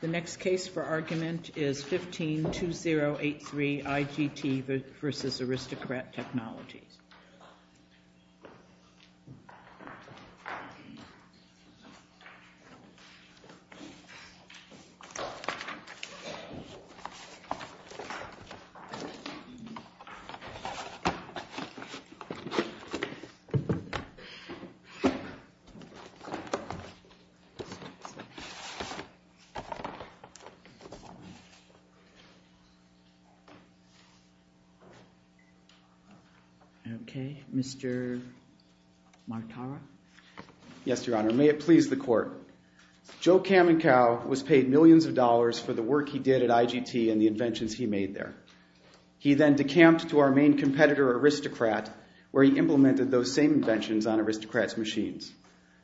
The next case for argument is 15-2083 IGT v. Aristocrat Technologies. Joe Kamenkau was paid millions of dollars for the work he did at IGT and the inventions he made there. He then decamped to our main competitor, Aristocrat, where he implemented those same inventions on Aristocrat's machines.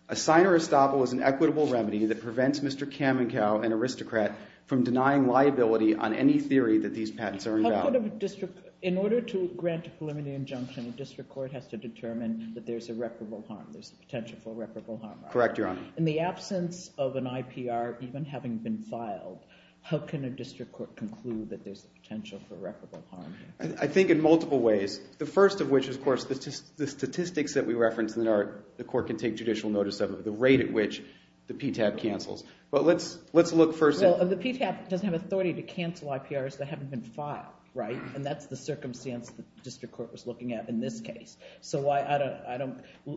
A sign or estoppel is an equitable remedy that prevents Mr. Kamenkau, an aristocrat, from denying liability on any theory that these patents are invaluable. In order to grant a preliminary injunction, a district court has to determine that there's a reputable harm, there's a potential for a reputable harm. Correct, Your Honor. In the absence of an IPR even having been filed, how can a district court conclude that there's a potential for a reputable harm? I think in multiple ways. The first of which is, of course, the statistics that we referenced that the court can take judicial notice of, the rate at which the PTAB cancels. But let's look first at— Well, the PTAB doesn't have authority to cancel IPRs that haven't been filed, right? And that's the circumstance the district court was looking at in this case. So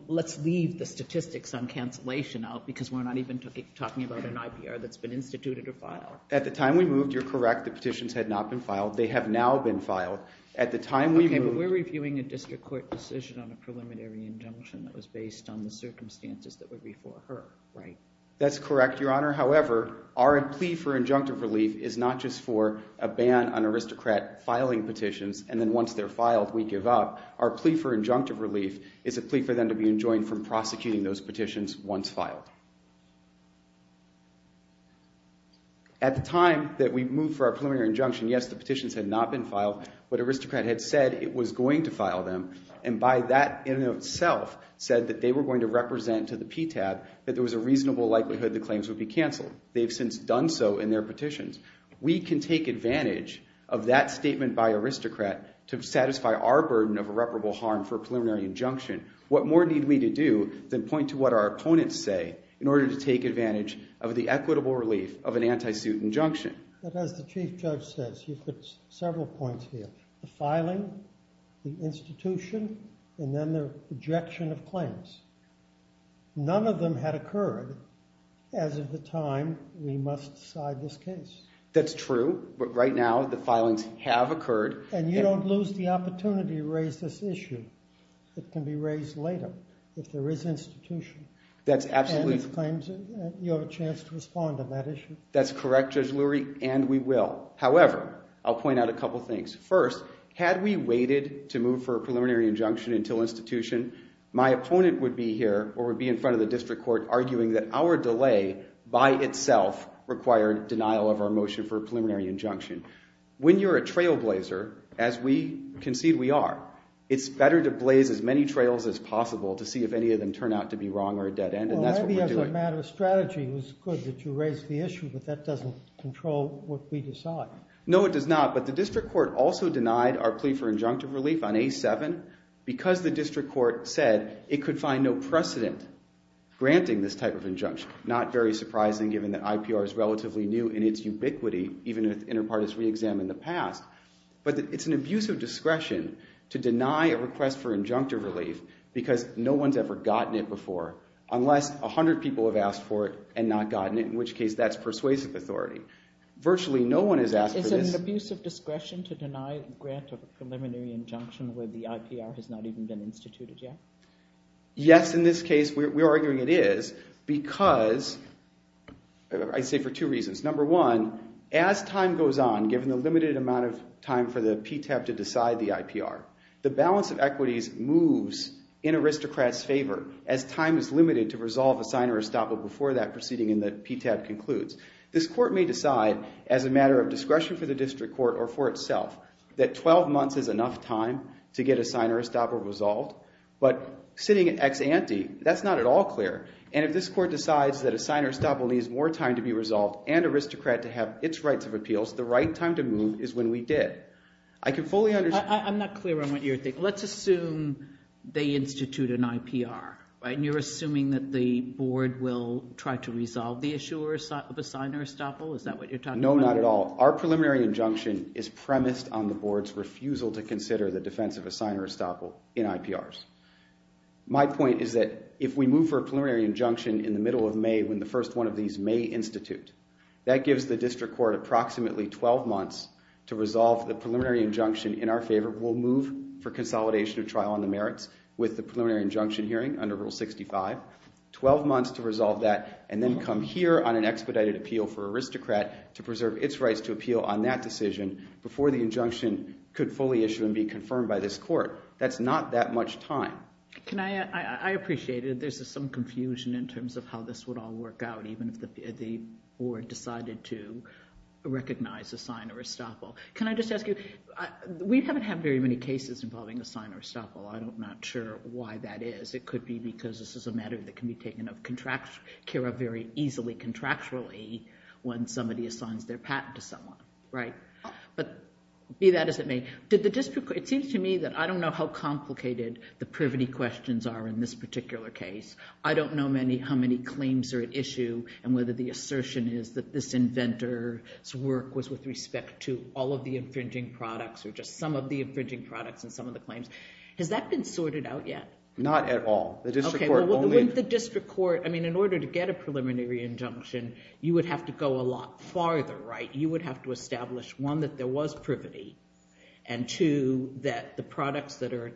let's leave the statistics on cancellation out because we're not even talking about an IPR that's been instituted or filed. At the time we moved, you're correct, the petitions had not been filed. They have now been filed. At the time we moved— So we're reviewing a district court decision on a preliminary injunction that was based on the circumstances that were before her, right? That's correct, Your Honor. However, our plea for injunctive relief is not just for a ban on aristocrat filing petitions and then once they're filed, we give up. Our plea for injunctive relief is a plea for them to be enjoined from prosecuting those petitions once filed. At the time that we moved for our preliminary injunction, yes, the petitions had not been filed. The district court was going to file them and by that in itself said that they were going to represent to the PTAB that there was a reasonable likelihood the claims would be canceled. They've since done so in their petitions. We can take advantage of that statement by aristocrat to satisfy our burden of irreparable harm for a preliminary injunction. What more need we to do than point to what our opponents say in order to take advantage of the equitable relief of an anti-suit injunction? But as the Chief Judge says, you've put several points here, the filing, the institution, and then the rejection of claims. None of them had occurred as of the time we must decide this case. That's true. But right now, the filings have occurred. And you don't lose the opportunity to raise this issue that can be raised later if there is institution. That's absolutely. You have a chance to respond on that issue. That's correct, Judge Lurie. And we will. However, I'll point out a couple things. First, had we waited to move for a preliminary injunction until institution, my opponent would be here or would be in front of the district court arguing that our delay by itself required denial of our motion for a preliminary injunction. When you're a trailblazer, as we concede we are, it's better to blaze as many trails as possible to see if any of them turn out to be wrong or a dead end. And that's what we're doing. The matter of strategy was good that you raised the issue, but that doesn't control what we decide. No, it does not. But the district court also denied our plea for injunctive relief on A7 because the district court said it could find no precedent granting this type of injunction. Not very surprising given that IPR is relatively new in its ubiquity, even if the inner part is reexamined in the past. But it's an abuse of discretion to deny a request for injunctive relief because no one's ever gotten it before, unless 100 people have asked for it and not gotten it, in which case that's persuasive authority. Virtually no one has asked for this. Is it an abuse of discretion to deny a grant of a preliminary injunction where the IPR has not even been instituted yet? Yes, in this case we're arguing it is because, I'd say for two reasons. Number one, as time goes on, given the limited amount of time for the PTAB to decide the favor, as time is limited to resolve a signer estoppel before that proceeding in the PTAB concludes, this court may decide as a matter of discretion for the district court or for itself that 12 months is enough time to get a signer estoppel resolved. But sitting at ex ante, that's not at all clear. And if this court decides that a signer estoppel needs more time to be resolved and aristocrat to have its rights of appeals, the right time to move is when we did. I can fully understand. I'm not clear on what you're thinking. Let's assume they institute an IPR, and you're assuming that the board will try to resolve the issue of a signer estoppel? Is that what you're talking about? No, not at all. Our preliminary injunction is premised on the board's refusal to consider the defense of a signer estoppel in IPRs. My point is that if we move for a preliminary injunction in the middle of May when the first one of these may institute, that gives the district court approximately 12 months to merits with the preliminary injunction hearing under Rule 65, 12 months to resolve that, and then come here on an expedited appeal for aristocrat to preserve its rights to appeal on that decision before the injunction could fully issue and be confirmed by this court. That's not that much time. I appreciate it. There's some confusion in terms of how this would all work out, even if the board decided to recognize a signer estoppel. Can I just ask you, we haven't had very many cases involving a signer estoppel. I'm not sure why that is. It could be because this is a matter that can be taken of Kira very easily contractually when somebody assigns their patent to someone, right? But be that as it may, it seems to me that I don't know how complicated the privity questions are in this particular case. I don't know how many claims are at issue and whether the assertion is that this inventor's respect to all of the infringing products or just some of the infringing products and some of the claims. Has that been sorted out yet? Not at all. The district court only... Okay, well, with the district court, I mean, in order to get a preliminary injunction, you would have to go a lot farther, right? You would have to establish, one, that there was privity, and two, that the products that are...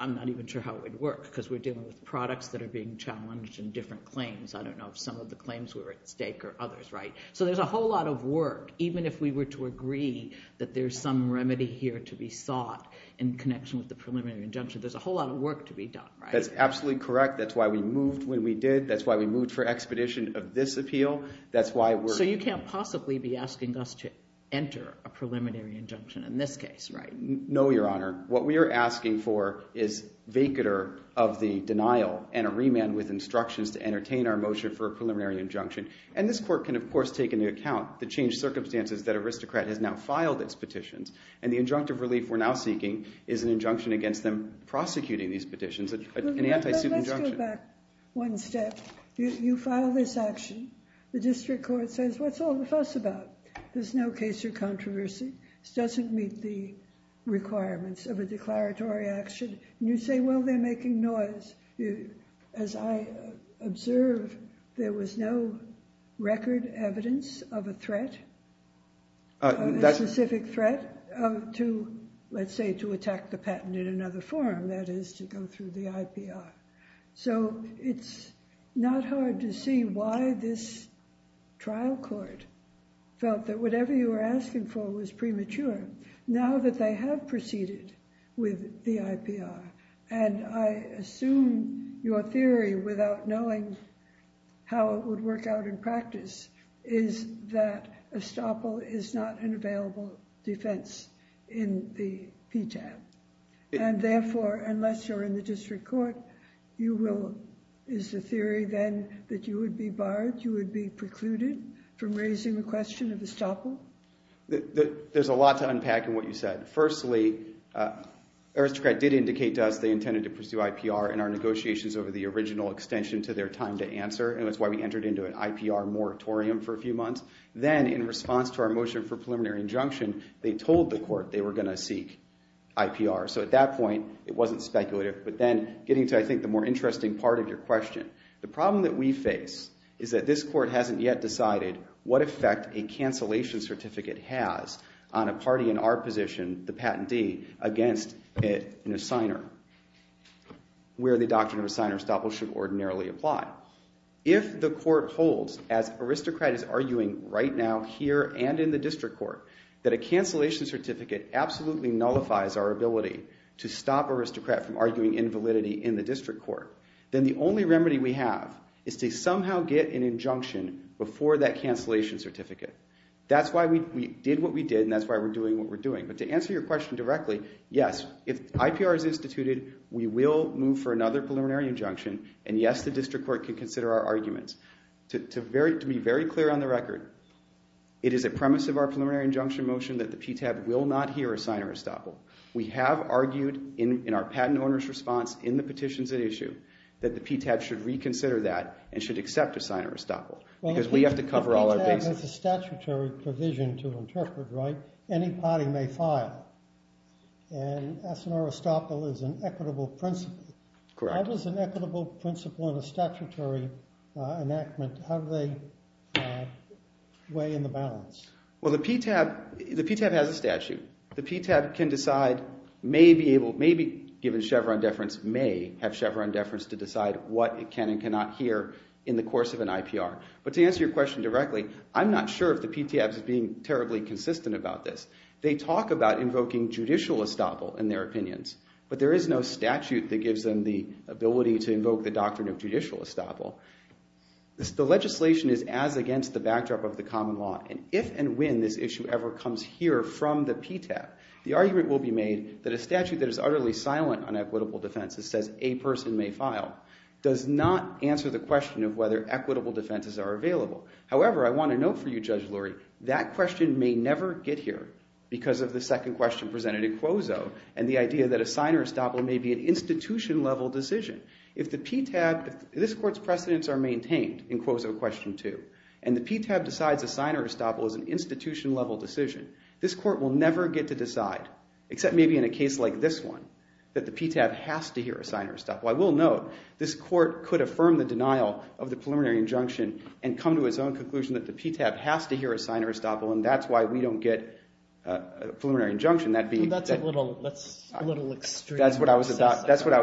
I'm not even sure how it would work because we're dealing with products that are being challenged in different claims. I don't know if some of the claims were at stake or others, right? So there's a whole lot of work, even if we were to agree that there's some remedy here to be sought in connection with the preliminary injunction. There's a whole lot of work to be done, right? That's absolutely correct. That's why we moved when we did. That's why we moved for expedition of this appeal. That's why we're... So you can't possibly be asking us to enter a preliminary injunction in this case, right? No, Your Honor. What we are asking for is vacater of the denial and a remand with instructions to entertain our motion for a preliminary injunction. And this court can, of course, take into account the changed circumstances that Aristocrat has now filed its petitions. And the injunctive relief we're now seeking is an injunction against them prosecuting these petitions, an anti-suit injunction. Let's go back one step. You file this action. The district court says, what's all the fuss about? There's no case or controversy. This doesn't meet the requirements of a declaratory action. And you say, well, they're making noise. As I observe, there was no record evidence of a threat, a specific threat to, let's say, to attack the patent in another form, that is, to go through the IPR. So it's not hard to see why this trial court felt that whatever you were asking for was premature now that they have proceeded with the IPR. And I assume your theory, without knowing how it would work out in practice, is that estoppel is not an available defense in the PTAB. And therefore, unless you're in the district court, you will, is the theory then that you would be barred, you would be precluded from raising the question of estoppel? There's a lot to unpack in what you said. Firstly, Aristocrat did indicate to us they intended to pursue IPR in our negotiations over the original extension to their time to answer. And that's why we entered into an IPR moratorium for a few months. Then, in response to our motion for preliminary injunction, they told the court they were going to seek IPR. So at that point, it wasn't speculative. But then, getting to, I think, the more interesting part of your question, the problem that we face is that this court hasn't yet decided what effect a cancellation certificate has on a party in our position, the patentee, against an assigner, where the doctrine of assigner estoppel should ordinarily apply. If the court holds, as Aristocrat is arguing right now here and in the district court, that a cancellation certificate absolutely nullifies our ability to stop Aristocrat from arguing invalidity in the district court, then the only remedy we have is to somehow get an injunction before that cancellation certificate. That's why we did what we did, and that's why we're doing what we're doing. But to answer your question directly, yes, if IPR is instituted, we will move for another preliminary injunction. And yes, the district court can consider our arguments. To be very clear on the record, it is a premise of our preliminary injunction motion that the PTAB will not hear assigner estoppel. That the PTAB should reconsider that and should accept assigner estoppel. Because we have to cover all our bases. The PTAB has a statutory provision to interpret, right? Any party may file. And assigner estoppel is an equitable principle. Correct. That is an equitable principle in a statutory enactment. How do they weigh in the balance? Well, the PTAB has a statute. The PTAB can decide, maybe given Chevron deference, may have Chevron deference to decide what it can and cannot hear in the course of an IPR. But to answer your question directly, I'm not sure if the PTAB is being terribly consistent about this. They talk about invoking judicial estoppel in their opinions. But there is no statute that gives them the ability to invoke the doctrine of judicial estoppel. The legislation is as against the backdrop of the common law. And if and when this issue ever comes here from the PTAB, the argument will be made that a statute that is utterly silent on equitable defenses, says a person may file, does not answer the question of whether equitable defenses are available. However, I want to note for you, Judge Lurie, that question may never get here because of the second question presented in Quozo and the idea that assigner estoppel may be an institution-level decision. If the PTAB, if this court's precedents are maintained in Quozo question two, and the PTAB decides assigner estoppel is an institution-level decision, this court will never get to decide, except maybe in a case like this one, that the PTAB has to hear assigner estoppel. I will note, this court could affirm the denial of the preliminary injunction and come to its own conclusion that the PTAB has to hear assigner estoppel. And that's why we don't get a preliminary injunction. That'd be a little extreme. That's what I was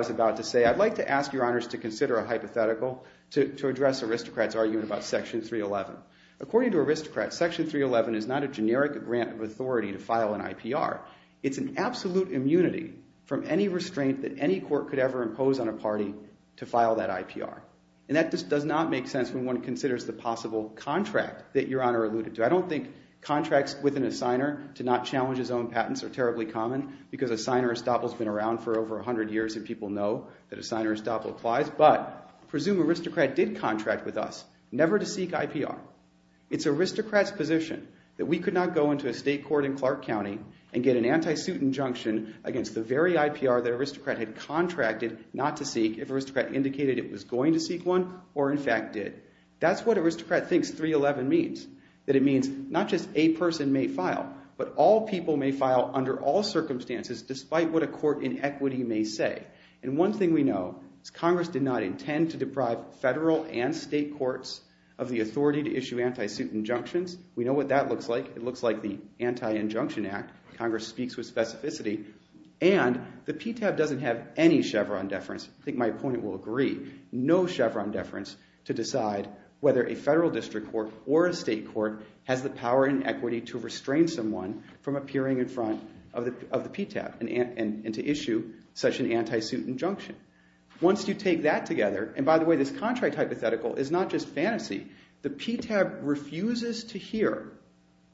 about to say. I'd like to ask your honors to consider a hypothetical to address aristocrat's argument about section 311. According to aristocrats, section 311 is not a generic grant of authority to file an IPR. It's an absolute immunity from any restraint that any court could ever impose on a party to file that IPR. And that just does not make sense when one considers the possible contract that your honor alluded to. I don't think contracts with an assigner to not challenge his own patents are terribly common, because assigner estoppel's been around for over 100 years and people know that assigner estoppel applies. But I presume aristocrat did contract with us never to seek IPR. It's aristocrat's position that we could not go into a state court in Clark County and get an anti-suit injunction against the very IPR that aristocrat had contracted not to seek if aristocrat indicated it was going to seek one, or in fact did. That's what aristocrat thinks 311 means. That it means not just a person may file, but all people may file under all circumstances despite what a court in equity may say. And one thing we know is Congress did not intend to deprive federal and state courts of the authority to issue anti-suit injunctions. We know what that looks like. It looks like the Anti-Injunction Act. Congress speaks with specificity. And the PTAB doesn't have any Chevron deference. I think my opponent will agree. No Chevron deference to decide whether a federal district court or a state court has the power in equity to restrain someone from appearing in front of the PTAB and to issue such an anti-suit injunction. this contract hypothetical is not just fantasy. The PTAB refuses to hear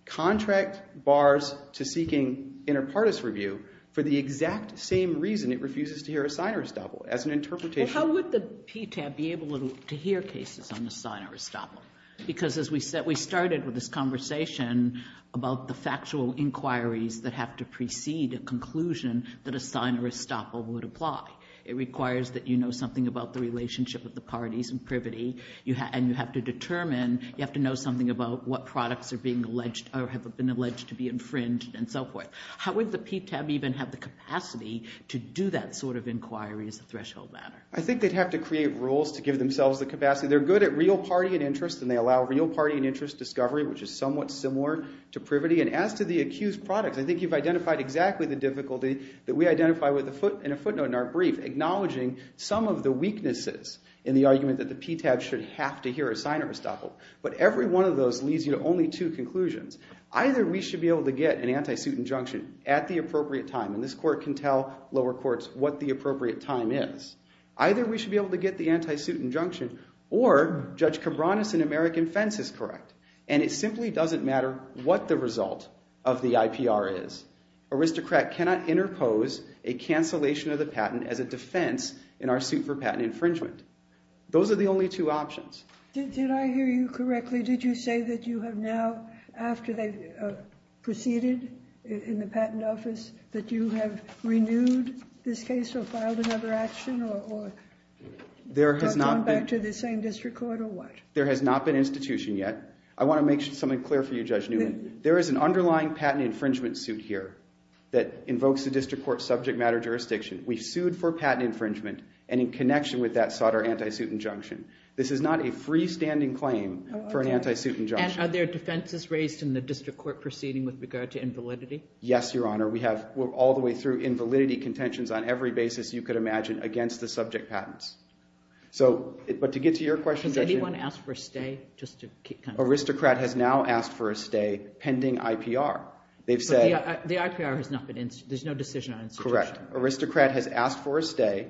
contract bars to seeking inter partes review for the exact same reason it refuses to hear a sign or estoppel as an interpretation. How would the PTAB be able to hear cases on the sign or estoppel? Because as we said, we started with this conversation about the factual inquiries that have to precede a conclusion that a sign or estoppel would apply. It requires that you know something about the relationship of the parties in privity, and you have to determine, you have to know something about what products are being alleged or have been alleged to be infringed and so forth. How would the PTAB even have the capacity to do that sort of inquiry as a threshold matter? I think they'd have to create rules to give themselves the capacity. They're good at real party and interest and they allow real party and interest discovery, which is somewhat similar to privity. And as to the accused products, I think you've identified exactly the difficulty that we identify in a footnote in our brief, acknowledging some of the weaknesses in the argument that the PTAB should have to hear a sign or estoppel. But every one of those leads you to only two conclusions. Either we should be able to get an anti-suit injunction at the appropriate time, and this court can tell lower courts what the appropriate time is. Either we should be able to get the anti-suit injunction or Judge Cabranes in American Fence is correct. And it simply doesn't matter what the result of the IPR is. Aristocrat cannot interpose a cancellation of the patent as a defense in our suit for patent infringement. Those are the only two options. Did I hear you correctly? Did you say that you have now, after they've proceeded in the patent office, that you have renewed this case or filed another action or gone back to the same district court or what? There has not been institution yet. I want to make something clear for you, Judge Newman. There is an underlying patent infringement suit here that invokes the district court's subject matter jurisdiction. We've sued for patent infringement, and in connection with that, sought our anti-suit injunction. This is not a freestanding claim for an anti-suit injunction. And are there defenses raised in the district court proceeding with regard to invalidity? Yes, Your Honor. We have, all the way through, invalidity contentions on every basis you could imagine against the subject patents. So, but to get to your question, Judge Newman. Has anyone asked for a stay, just to kind of. Aristocrat has now asked for a stay pending IPR. They've said. The IPR has not been, there's no decision on institution. Correct. Aristocrat has asked for a stay,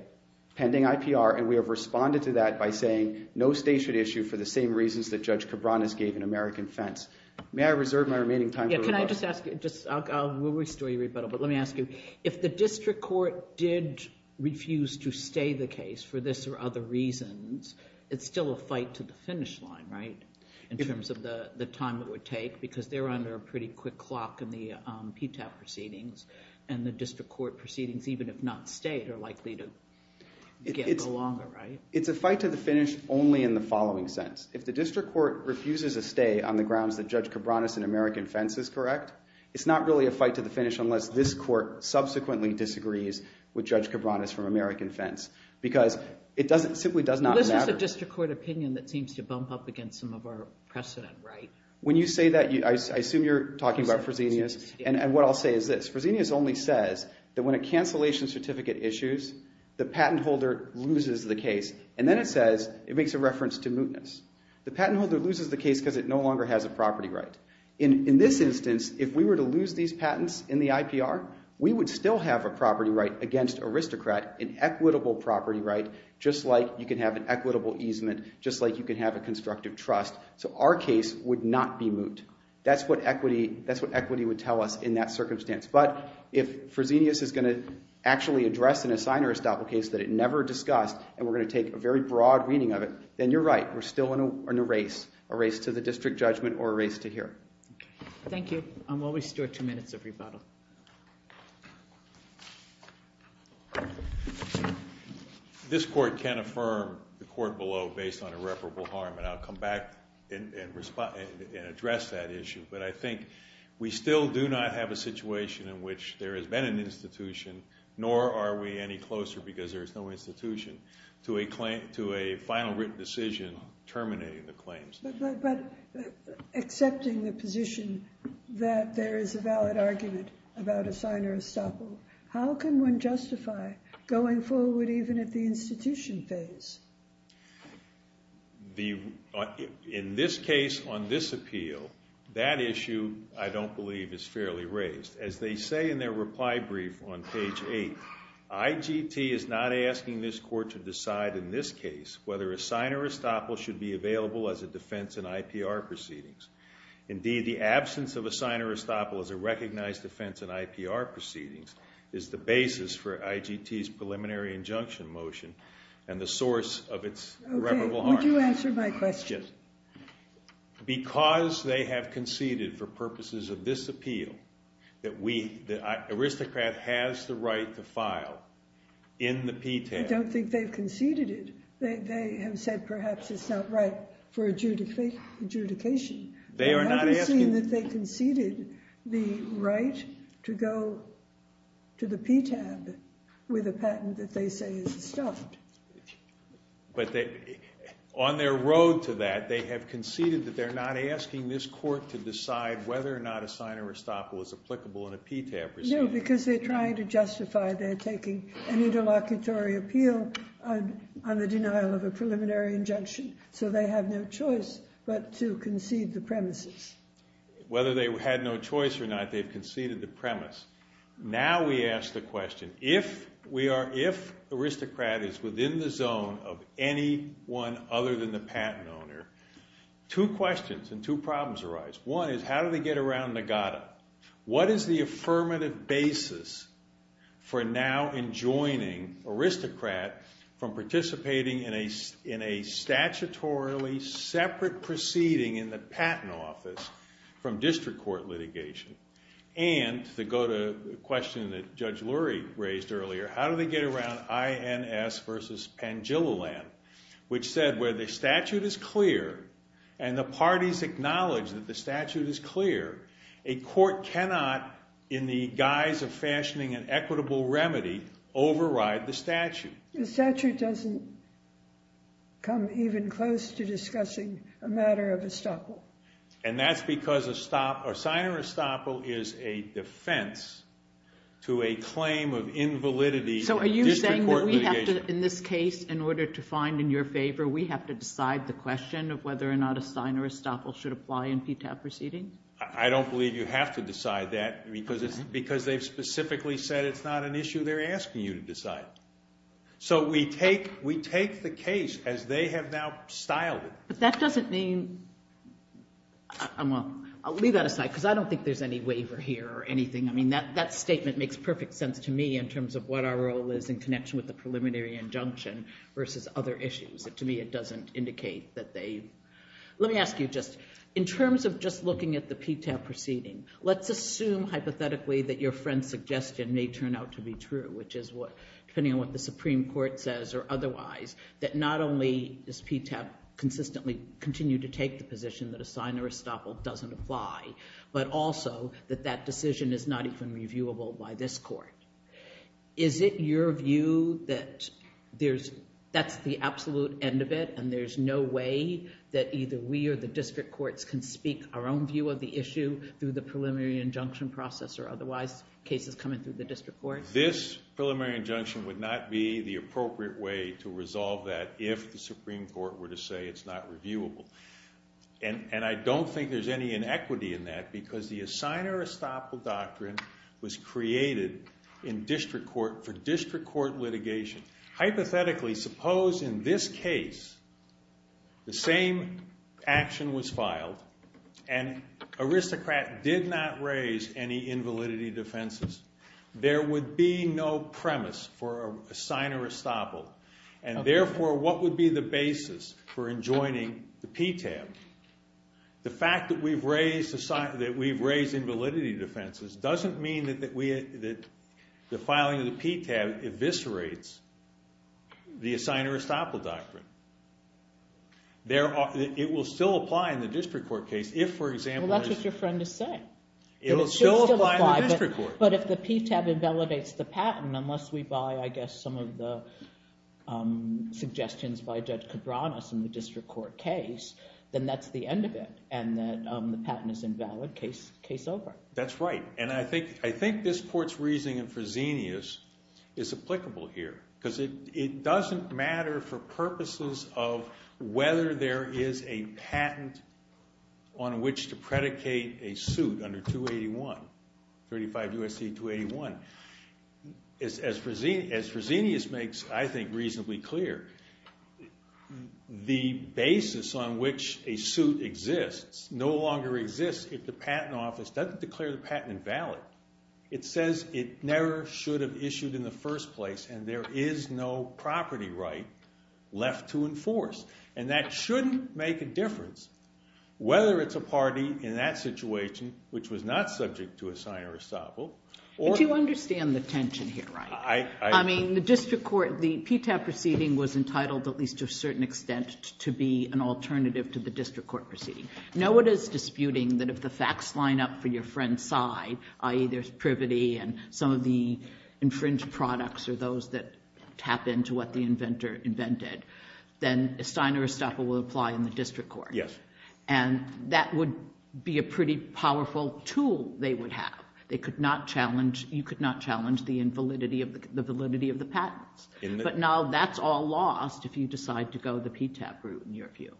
pending IPR, and we have responded to that by saying, no stay should issue for the same reasons that Judge Cabranes gave in American Fence. May I reserve my remaining time for rebuttal? Yeah, can I just ask you, just, I'll, we'll restore your rebuttal, but let me ask you. If the district court did refuse to stay the case for this or other reasons, it's still a fight to the finish line, right? In terms of the time it would take, because they're under a pretty quick clock in the PTAP proceedings, and the district court proceedings even if not stayed are likely to go longer, right? It's a fight to the finish only in the following sense. If the district court refuses a stay on the grounds that Judge Cabranes in American Fence is correct, it's not really a fight to the finish unless this court subsequently disagrees with Judge Cabranes from American Fence, because it doesn't, simply does not matter. Well, this is a district court opinion that seems to bump up against some of our precedent, right? When you say that, I assume you're talking about Fresenius, and what I'll say is this. Fresenius only says that when a cancellation certificate issues, the patent holder loses the case, and then it says, it makes a reference to mootness. The patent holder loses the case because it no longer has a property right. In this instance, if we were to lose these patents in the IPR, we would still have a property right against aristocrat, an equitable property right, just like you can have an equitable easement, just like you can have a constructive trust. So our case would not be moot. That's what equity would tell us in that circumstance. But if Fresenius is going to actually address an assigner estoppel case that it never discussed, and we're going to take a very broad reading of it, then you're right. We're still in a race, a race to the district judgment or a race to hear it. Thank you. And we'll restore two minutes of rebuttal. This court can affirm the court below based on irreparable harm, and I'll come back and address that issue. But I think we still do not have a situation in which there has been an institution, nor are we any closer, because there is no institution, to a final written decision terminating the claims. But accepting the position that there is a valid argument about assigner estoppel, how can one justify going forward even at the institution phase? In this case, on this appeal, that issue, I don't believe, is fairly raised. As they say in their reply brief on page 8, IGT is not asking this court to decide in this case whether assigner estoppel should be available as a defense in IPR proceedings. Indeed, the absence of assigner estoppel as a recognized offense in IPR proceedings is the basis for IGT's preliminary injunction motion, and the source of its irreparable harm. Would you answer my question? Because they have conceded, for purposes of this appeal, that the aristocrat has the right to file in the PTAB. I don't think they've conceded it. They have said, perhaps, it's not right for adjudication. They are not asking. I haven't seen that they conceded the right to go to the PTAB with a patent that they say is estoppel. But on their road to that, they have conceded that they're not asking this court to decide whether or not assigner estoppel is applicable in a PTAB proceeding. No, because they're trying to justify their taking an interlocutory appeal on the denial of a preliminary injunction. So they have no choice but to concede the premises. Whether they had no choice or not, they've conceded the premise. Now we ask the question, if the aristocrat is within the zone of anyone other than the patent owner, two questions and two problems arise. One is, how do they get around Nagata? What is the affirmative basis for now enjoining aristocrat from participating in a statutorily separate proceeding in the patent office from district court litigation? And to go to the question that Judge Lurie raised earlier, how do they get around INS versus Pangillaland, which said where the statute is clear and the parties acknowledge that the statute is clear, a court cannot, in the guise of fashioning an equitable remedy, The statute doesn't come even close to discussing a matter of estoppel. And that's because a sign of estoppel is a defense to a claim of invalidity in district court litigation. So are you saying that we have to, in this case, in order to find in your favor, we have to decide the question of whether or not a sign of estoppel should apply in PTAP proceedings? I don't believe you have to decide that, because they've specifically said it's not an issue they're asking you to decide. So we take the case as they have now styled it. But that doesn't mean, I'll leave that aside, because I don't think there's any waiver here or anything. I mean, that statement makes perfect sense to me in terms of what our role is in connection with the preliminary injunction versus other issues. To me, it doesn't indicate that they. Let me ask you just, in terms of just looking at the PTAP proceeding, let's assume hypothetically that your friend's suggestion may turn out to be true, which is what, depending on what the Supreme Court says or otherwise, that not only does PTAP consistently continue to take the position that a sign of estoppel doesn't apply, but also that that decision is not even reviewable by this court. Is it your view that that's the absolute end of it, and there's no way that either we or the district courts can speak our own view of the issue through the preliminary injunction process or otherwise cases coming through the district courts? This preliminary injunction would not be the appropriate way to resolve that if the Supreme Court were to say it's not reviewable. And I don't think there's any inequity in that, because the assigner estoppel doctrine was created for district court litigation. Hypothetically, suppose in this case, the same action was filed, and Aristocrat did not raise any invalidity defenses. There would be no premise for a sign of estoppel. And therefore, what would be the basis for enjoining the PTAP? The fact that we've raised invalidity defenses doesn't mean that the filing of the PTAP eviscerates the assigner estoppel doctrine. It will still apply in the district court case if, for example, there's a- Well, that's what your friend is saying. It will still apply in the district court. But if the PTAP invalidates the patent, unless we buy, I guess, some of the suggestions by Judge Cabranas in the district court case, then that's the end of it. And the patent is invalid, case over. That's right. And I think this court's reasoning for Xenius is applicable here. of whether there is a patent on which to predicate a suit under 281, 35 U.S.C. 281. As for Xenius makes, I think, reasonably clear, the basis on which a suit exists no longer exists if the patent office doesn't declare the patent invalid. It says it never should have issued in the first place. And there is no property right left to enforce. And that shouldn't make a difference whether it's a party in that situation which was not subject to a sign of estoppel or- Do you understand the tension here, right? I mean, the district court, the PTAP proceeding was entitled, at least to a certain extent, to be an alternative to the district court proceeding. No one is disputing that if the facts line up for your friend's side, i.e. there's privity and some of the infringed products are those that tap into what the inventor invented, then a sign of estoppel will apply in the district court. And that would be a pretty powerful tool they would have. They could not challenge, you could not challenge the validity of the patents. But now that's all lost if you decide to go the PTAP route, in your view,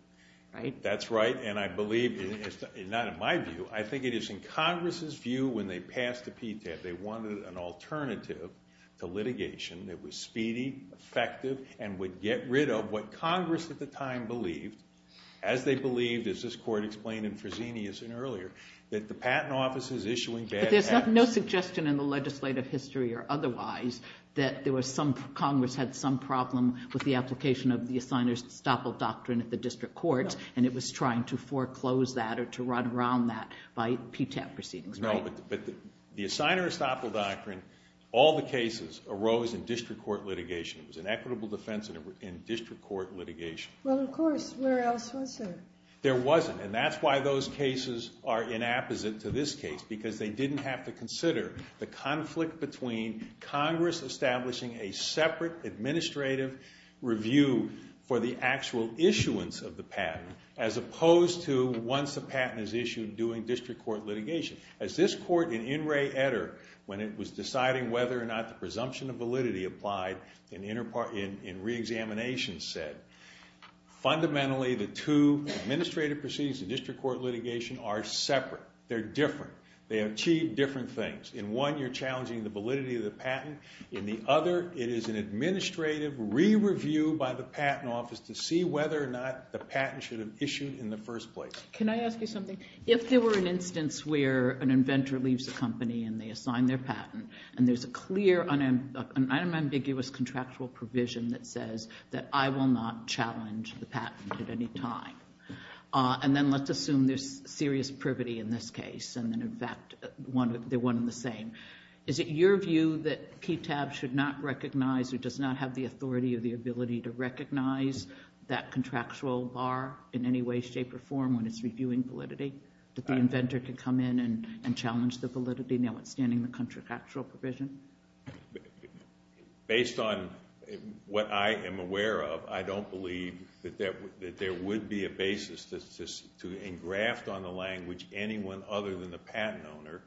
right? That's right. And I believe, not in my view, I think it is in Congress's view when they passed the PTAP, they wanted an alternative to litigation that was speedy, effective, and would get rid of what Congress at the time believed, as they believed, as this court explained in Fresenius and earlier, that the patent office is issuing bad patents. But there's no suggestion in the legislative history or otherwise that Congress had some problem with the application of the assigner's estoppel doctrine at the district courts. And it was trying to foreclose that or to run around that by PTAP proceedings, right? No, but the assigner's estoppel doctrine, all the cases arose in district court litigation. It was an equitable defense in district court litigation. Well, of course. Where else was there? There wasn't. And that's why those cases are inapposite to this case, because they didn't have to consider the conflict between Congress establishing a separate administrative review for the actual issuance of the patent, as opposed to once a patent is issued, doing district court litigation. As this court in In re etter, when it was deciding whether or not the presumption of validity applied in reexamination said, fundamentally, the two administrative proceedings in district court litigation are separate. They're different. They achieve different things. In one, you're challenging the validity of the patent. In the other, it is an administrative re-review by the patent office to see whether or not the patent should have issued in the first place. Can I ask you something? If there were an instance where an inventor leaves the company and they assign their patent, and there's a clear, unambiguous contractual provision that says that I will not challenge the patent at any time, and then let's assume there's serious privity in this case, and then, in fact, they're one and the same, is it your view that PTAB should not recognize or does not have the authority or the ability to recognize that contractual bar in any way, shape, or form when it's reviewing validity? That the inventor could come in and challenge the validity, notwithstanding the contractual provision? Based on what I am aware of, I don't believe that there would be a basis to engraft on the language anyone other than the patent owner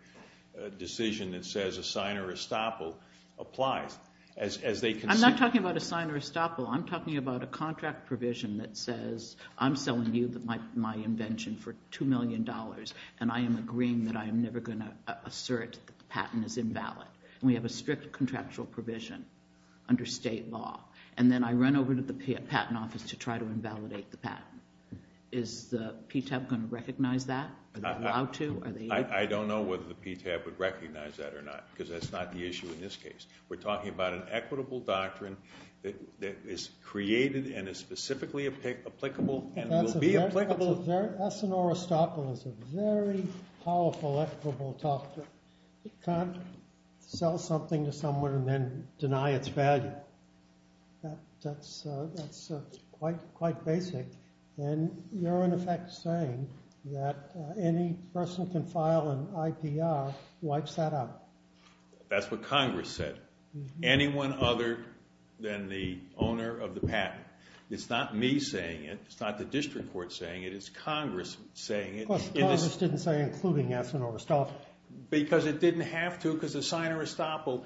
a decision that says a sign or estoppel applies. As they can see. I'm not talking about a sign or estoppel. I'm talking about a contract provision that says I'm selling you my invention for $2 million, and I am agreeing that I am never going to assert that the patent is invalid. We have a strict contractual provision under state law. And then I run over to the patent office to try to invalidate the patent. Is the PTAB going to recognize that? Are they allowed to? I don't know whether the PTAB would recognize that or not, because that's not the issue in this case. We're talking about an equitable doctrine that is created and is specifically applicable and will be applicable. That's an or estoppel. It's a very powerful, equitable doctrine. You can't sell something to someone and then deny its value. That's quite basic. And you're, in effect, saying that any person can file an IPR that wipes that out. That's what Congress said. Anyone other than the owner of the patent. It's not me saying it. It's not the district court saying it. It's Congress saying it. Of course, Congress didn't say including yes and or estoppel. Because it didn't have to. Because a sign or estoppel,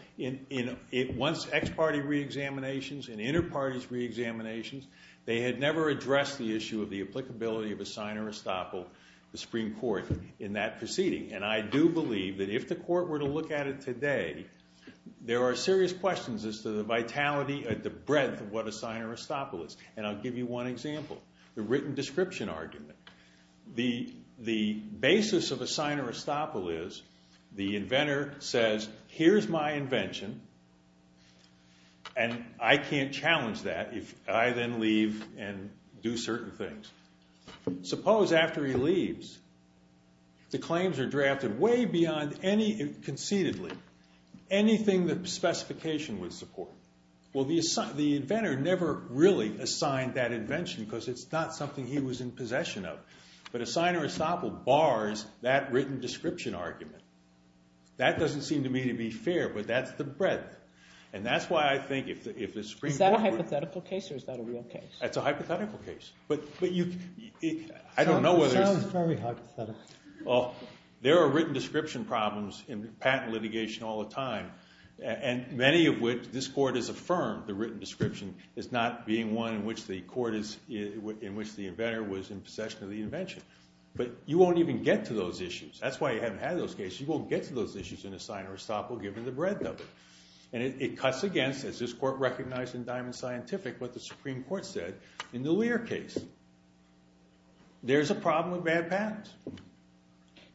once ex-party re-examinations and inter-parties re-examinations, they had never addressed the issue of the applicability of a sign or estoppel, the Supreme Court, in that proceeding. And I do believe that if the court were to look at it today, there are serious questions as to the vitality and the breadth of what a sign or estoppel is. And I'll give you one example, the written description argument. The basis of a sign or estoppel is the inventor says, here's my invention. And I can't challenge that if I then leave and do certain things. Suppose after he leaves, the claims are drafted way beyond any, concededly, anything that specification would support. Well, the inventor never really assigned that invention, because it's not something he was in possession of. But a sign or estoppel bars that written description argument. That doesn't seem to me to be fair, but that's the breadth. And that's why I think if the Supreme Court were to Is that a hypothetical case, or is that a real case? That's a hypothetical case. But I don't know whether it's It sounds very hypothetical. Well, there are written description problems in patent litigation all the time, and many of which this court has affirmed the written description is not being one in which the inventor was in possession of the invention. But you won't even get to those issues. That's why you haven't had those cases. You won't get to those issues in a sign or estoppel, given the breadth of it. And it cuts against, as this court recognized in Diamond Scientific, what the Supreme Court said in the Lear case. There's a problem with bad patents.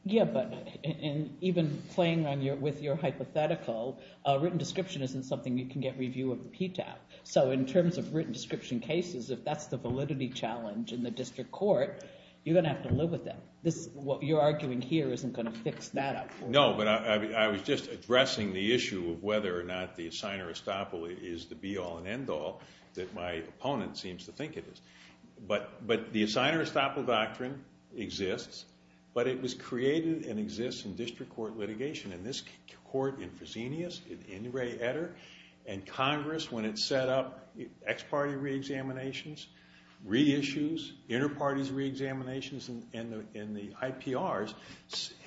Yeah, but even playing with your hypothetical, a written description isn't something you can get review of the PTAB. So in terms of written description cases, if that's the validity challenge in the district court, you're going to have to live with it. What you're arguing here isn't going to fix that up for you. No, but I was just addressing the issue of whether or not the sign or estoppel is the be all and end all that my opponent seems to think it is. But the sign or estoppel doctrine exists, but it was created and exists in district court litigation. In this court, in Fresenius, in Ray Etter, and Congress, when it set up ex-party re-examinations, re-issues, inter-parties re-examinations, and the IPRs,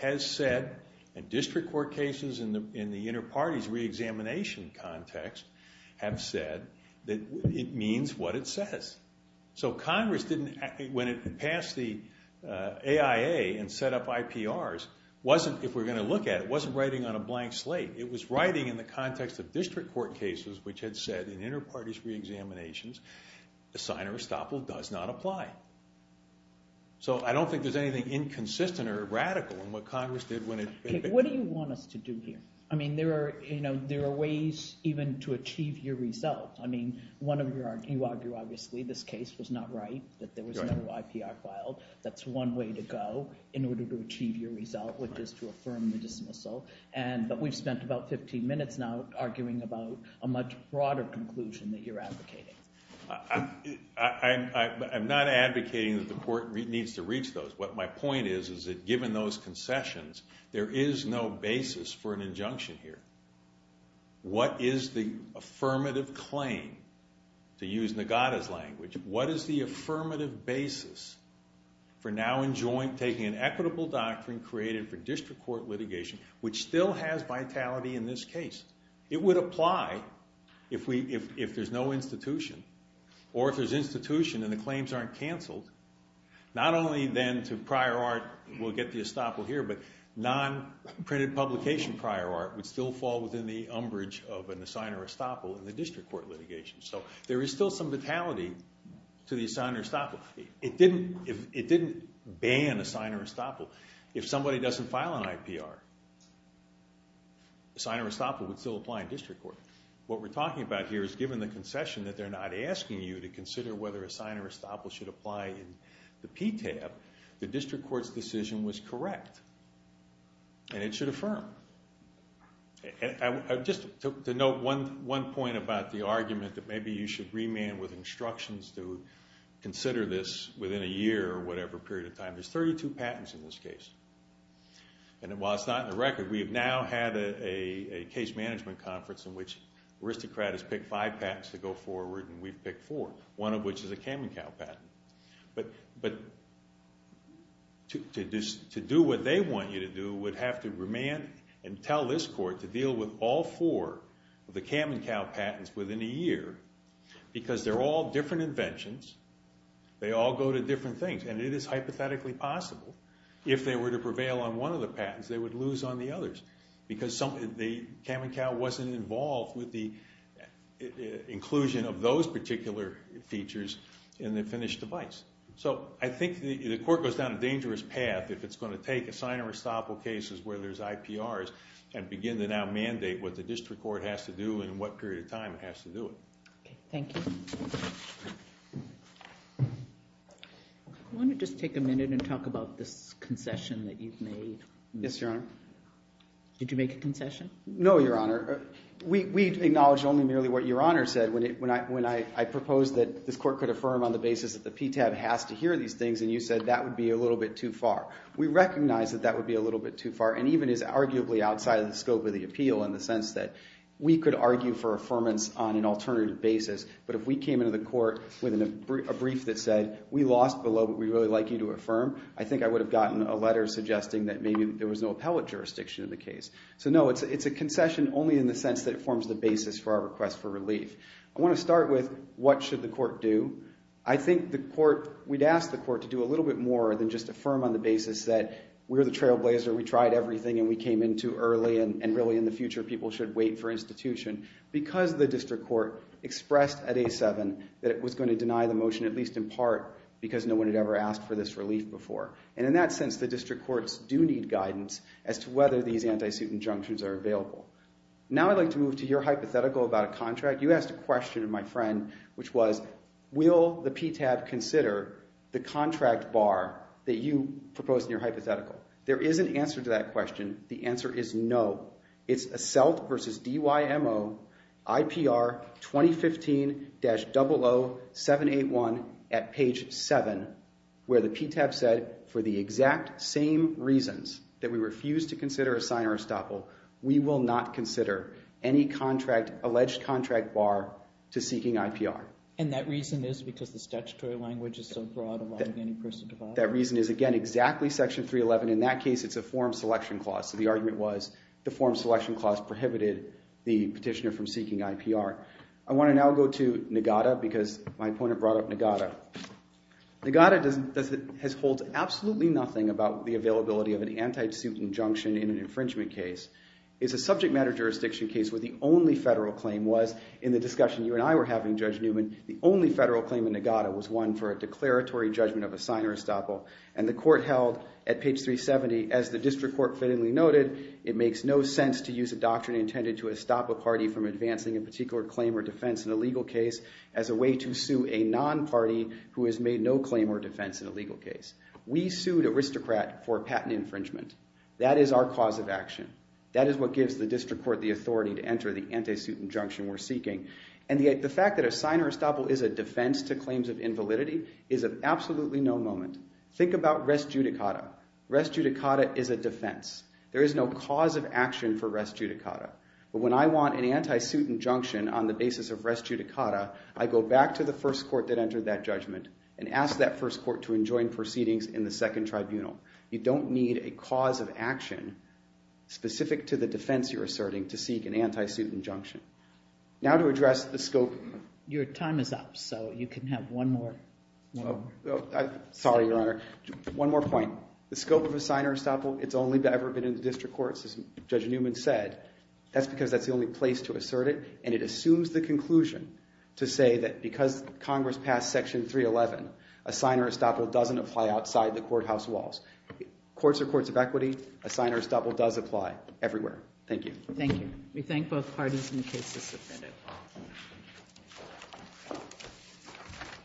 has said, and district court cases in the inter-parties re-examination context have said that it means what it says. So Congress didn't, when it passed the AIA and set up IPRs, if we're going to look at it, it wasn't writing on a blank slate. It was writing in the context of district court cases, which had said, in inter-parties re-examinations, the sign or estoppel does not apply. So I don't think there's anything inconsistent or radical in what Congress did when it did. What do you want us to do here? I mean, there are ways even to achieve your result. I mean, one of your arguments, obviously, this case was not right, that there was no IPR filed. That's one way to go in order to achieve your result, which is to affirm the dismissal. But we've spent about 15 minutes now arguing about a much broader conclusion that you're advocating. I'm not advocating that the court needs to reach those. What my point is, is that given those concessions, there is no basis for an injunction here. What is the affirmative claim, to use Nogada's language, what is the affirmative basis for now taking an equitable doctrine created for district court litigation, which still has vitality in this case? It would apply if there's no institution, or if there's institution and the claims aren't canceled. Not only then to prior art, we'll get the estoppel here, but non-printed publication prior art would still fall within the umbrage of an assigner estoppel in the district court litigation. So there is still some vitality to the assigner estoppel. It didn't ban assigner estoppel. If somebody doesn't file an IPR, assigner estoppel would still apply in district court. What we're talking about here is given the concession that they're not asking you to consider whether assigner estoppel should apply in the PTAB, the district court's decision was correct. And it should affirm. Just to note one point about the argument that maybe you should remand with instructions to consider this within a year or whatever period of time. There's 32 patents in this case. And while it's not in the record, we have now had a case management conference in which aristocrat has picked five patents to go forward, and we've picked four, one of which is a Cam and Cow patent. But to do what they want you to do would have to remand and tell this court to deal with all four of the Cam and Cow patents within a year, because they're all different inventions. They all go to different things. And it is hypothetically possible if they were to prevail on one of the patents, they would lose on the others. Because the Cam and Cow wasn't involved with the inclusion of those particular features in the finished device. So I think the court goes down a dangerous path if it's going to take assigner estoppel cases where there's IPRs and begin to now mandate what the district court has to do and in what period of time it has to do it. OK, thank you. I want to just take a minute and talk about this concession that you've made. Yes, Your Honor. Did you make a concession? No, Your Honor. We acknowledge only merely what Your Honor said when I proposed that this court could affirm on the basis that the PTAB has to hear these things, and you said that would be a little bit too far. and even is arguably outside of the scope of the appeal in the sense that we could argue for affirmance on an alternative basis, but if we came into the court with a brief that said, we lost below, but we'd really like you to affirm, I think I would have gotten a letter suggesting that maybe there was no appellate jurisdiction in the case. So no, it's a concession only in the sense that it forms the basis for our request for relief. I want to start with, what should the court do? I think we'd ask the court to do a little bit more than just affirm on the basis that we're the trailblazer, we tried everything, and we came in too early, and really, in the future, people should wait for institution, because the district court expressed at A7 that it was going to deny the motion, at least in part, because no one had ever asked for this relief before. And in that sense, the district courts do need guidance as to whether these anti-suit injunctions are available. Now I'd like to move to your hypothetical about a contract. You asked a question, my friend, which was, will the PTAB consider the contract bar that you proposed in your hypothetical? There is an answer to that question. The answer is no. It's ASCELT versus DYMO, IPR 2015-00781 at page 7, where the PTAB said, for the exact same reasons that we refuse to consider a signer estoppel, we will not consider any alleged contract bar to seeking IPR. And that reason is because the statutory language is so broad, allowing any person to file? That reason is, again, exactly section 311. In that case, it's a form selection clause. So the argument was the form selection clause prohibited the petitioner from seeking IPR. I want to now go to NGADA, because my opponent brought up NGADA. NGADA has hold absolutely nothing about the availability of an anti-suit injunction in an infringement case. It's a subject matter jurisdiction case where the only federal claim was, in the discussion you and I were having, Judge Newman, the only federal claim in NGADA was one for a declaratory judgment of a signer estoppel. And the court held at page 370, as the district court fittingly noted, it makes no sense to use a doctrine intended to stop a party from advancing a particular claim or defense in a legal case as a way to sue a non-party who has made no claim or defense in a legal case. We sued aristocrat for patent infringement. That is our cause of action. That is what gives the district court the authority to enter the anti-suit injunction we're seeking. And the fact that a signer estoppel is a defense to claims of invalidity is of absolutely no moment. Think about res judicata. Res judicata is a defense. There is no cause of action for res judicata. But when I want an anti-suit injunction on the basis of res judicata, I go back to the first court that entered that judgment and ask that first court to enjoin proceedings in the second tribunal. You don't need a cause of action specific to the defense you're asserting to seek an anti-suit injunction. Now to address the scope. Your time is up, so you can have one more. Sorry, Your Honor. One more point. The scope of a signer estoppel, it's only ever been in the district courts, as Judge Newman said. That's because that's the only place to assert it. And it assumes the conclusion to say that because Congress passed section 311, a signer estoppel doesn't apply outside the courthouse walls. Courts are courts of equity. A signer estoppel does apply everywhere. Thank you. Thank you. We thank both parties in the case suspended.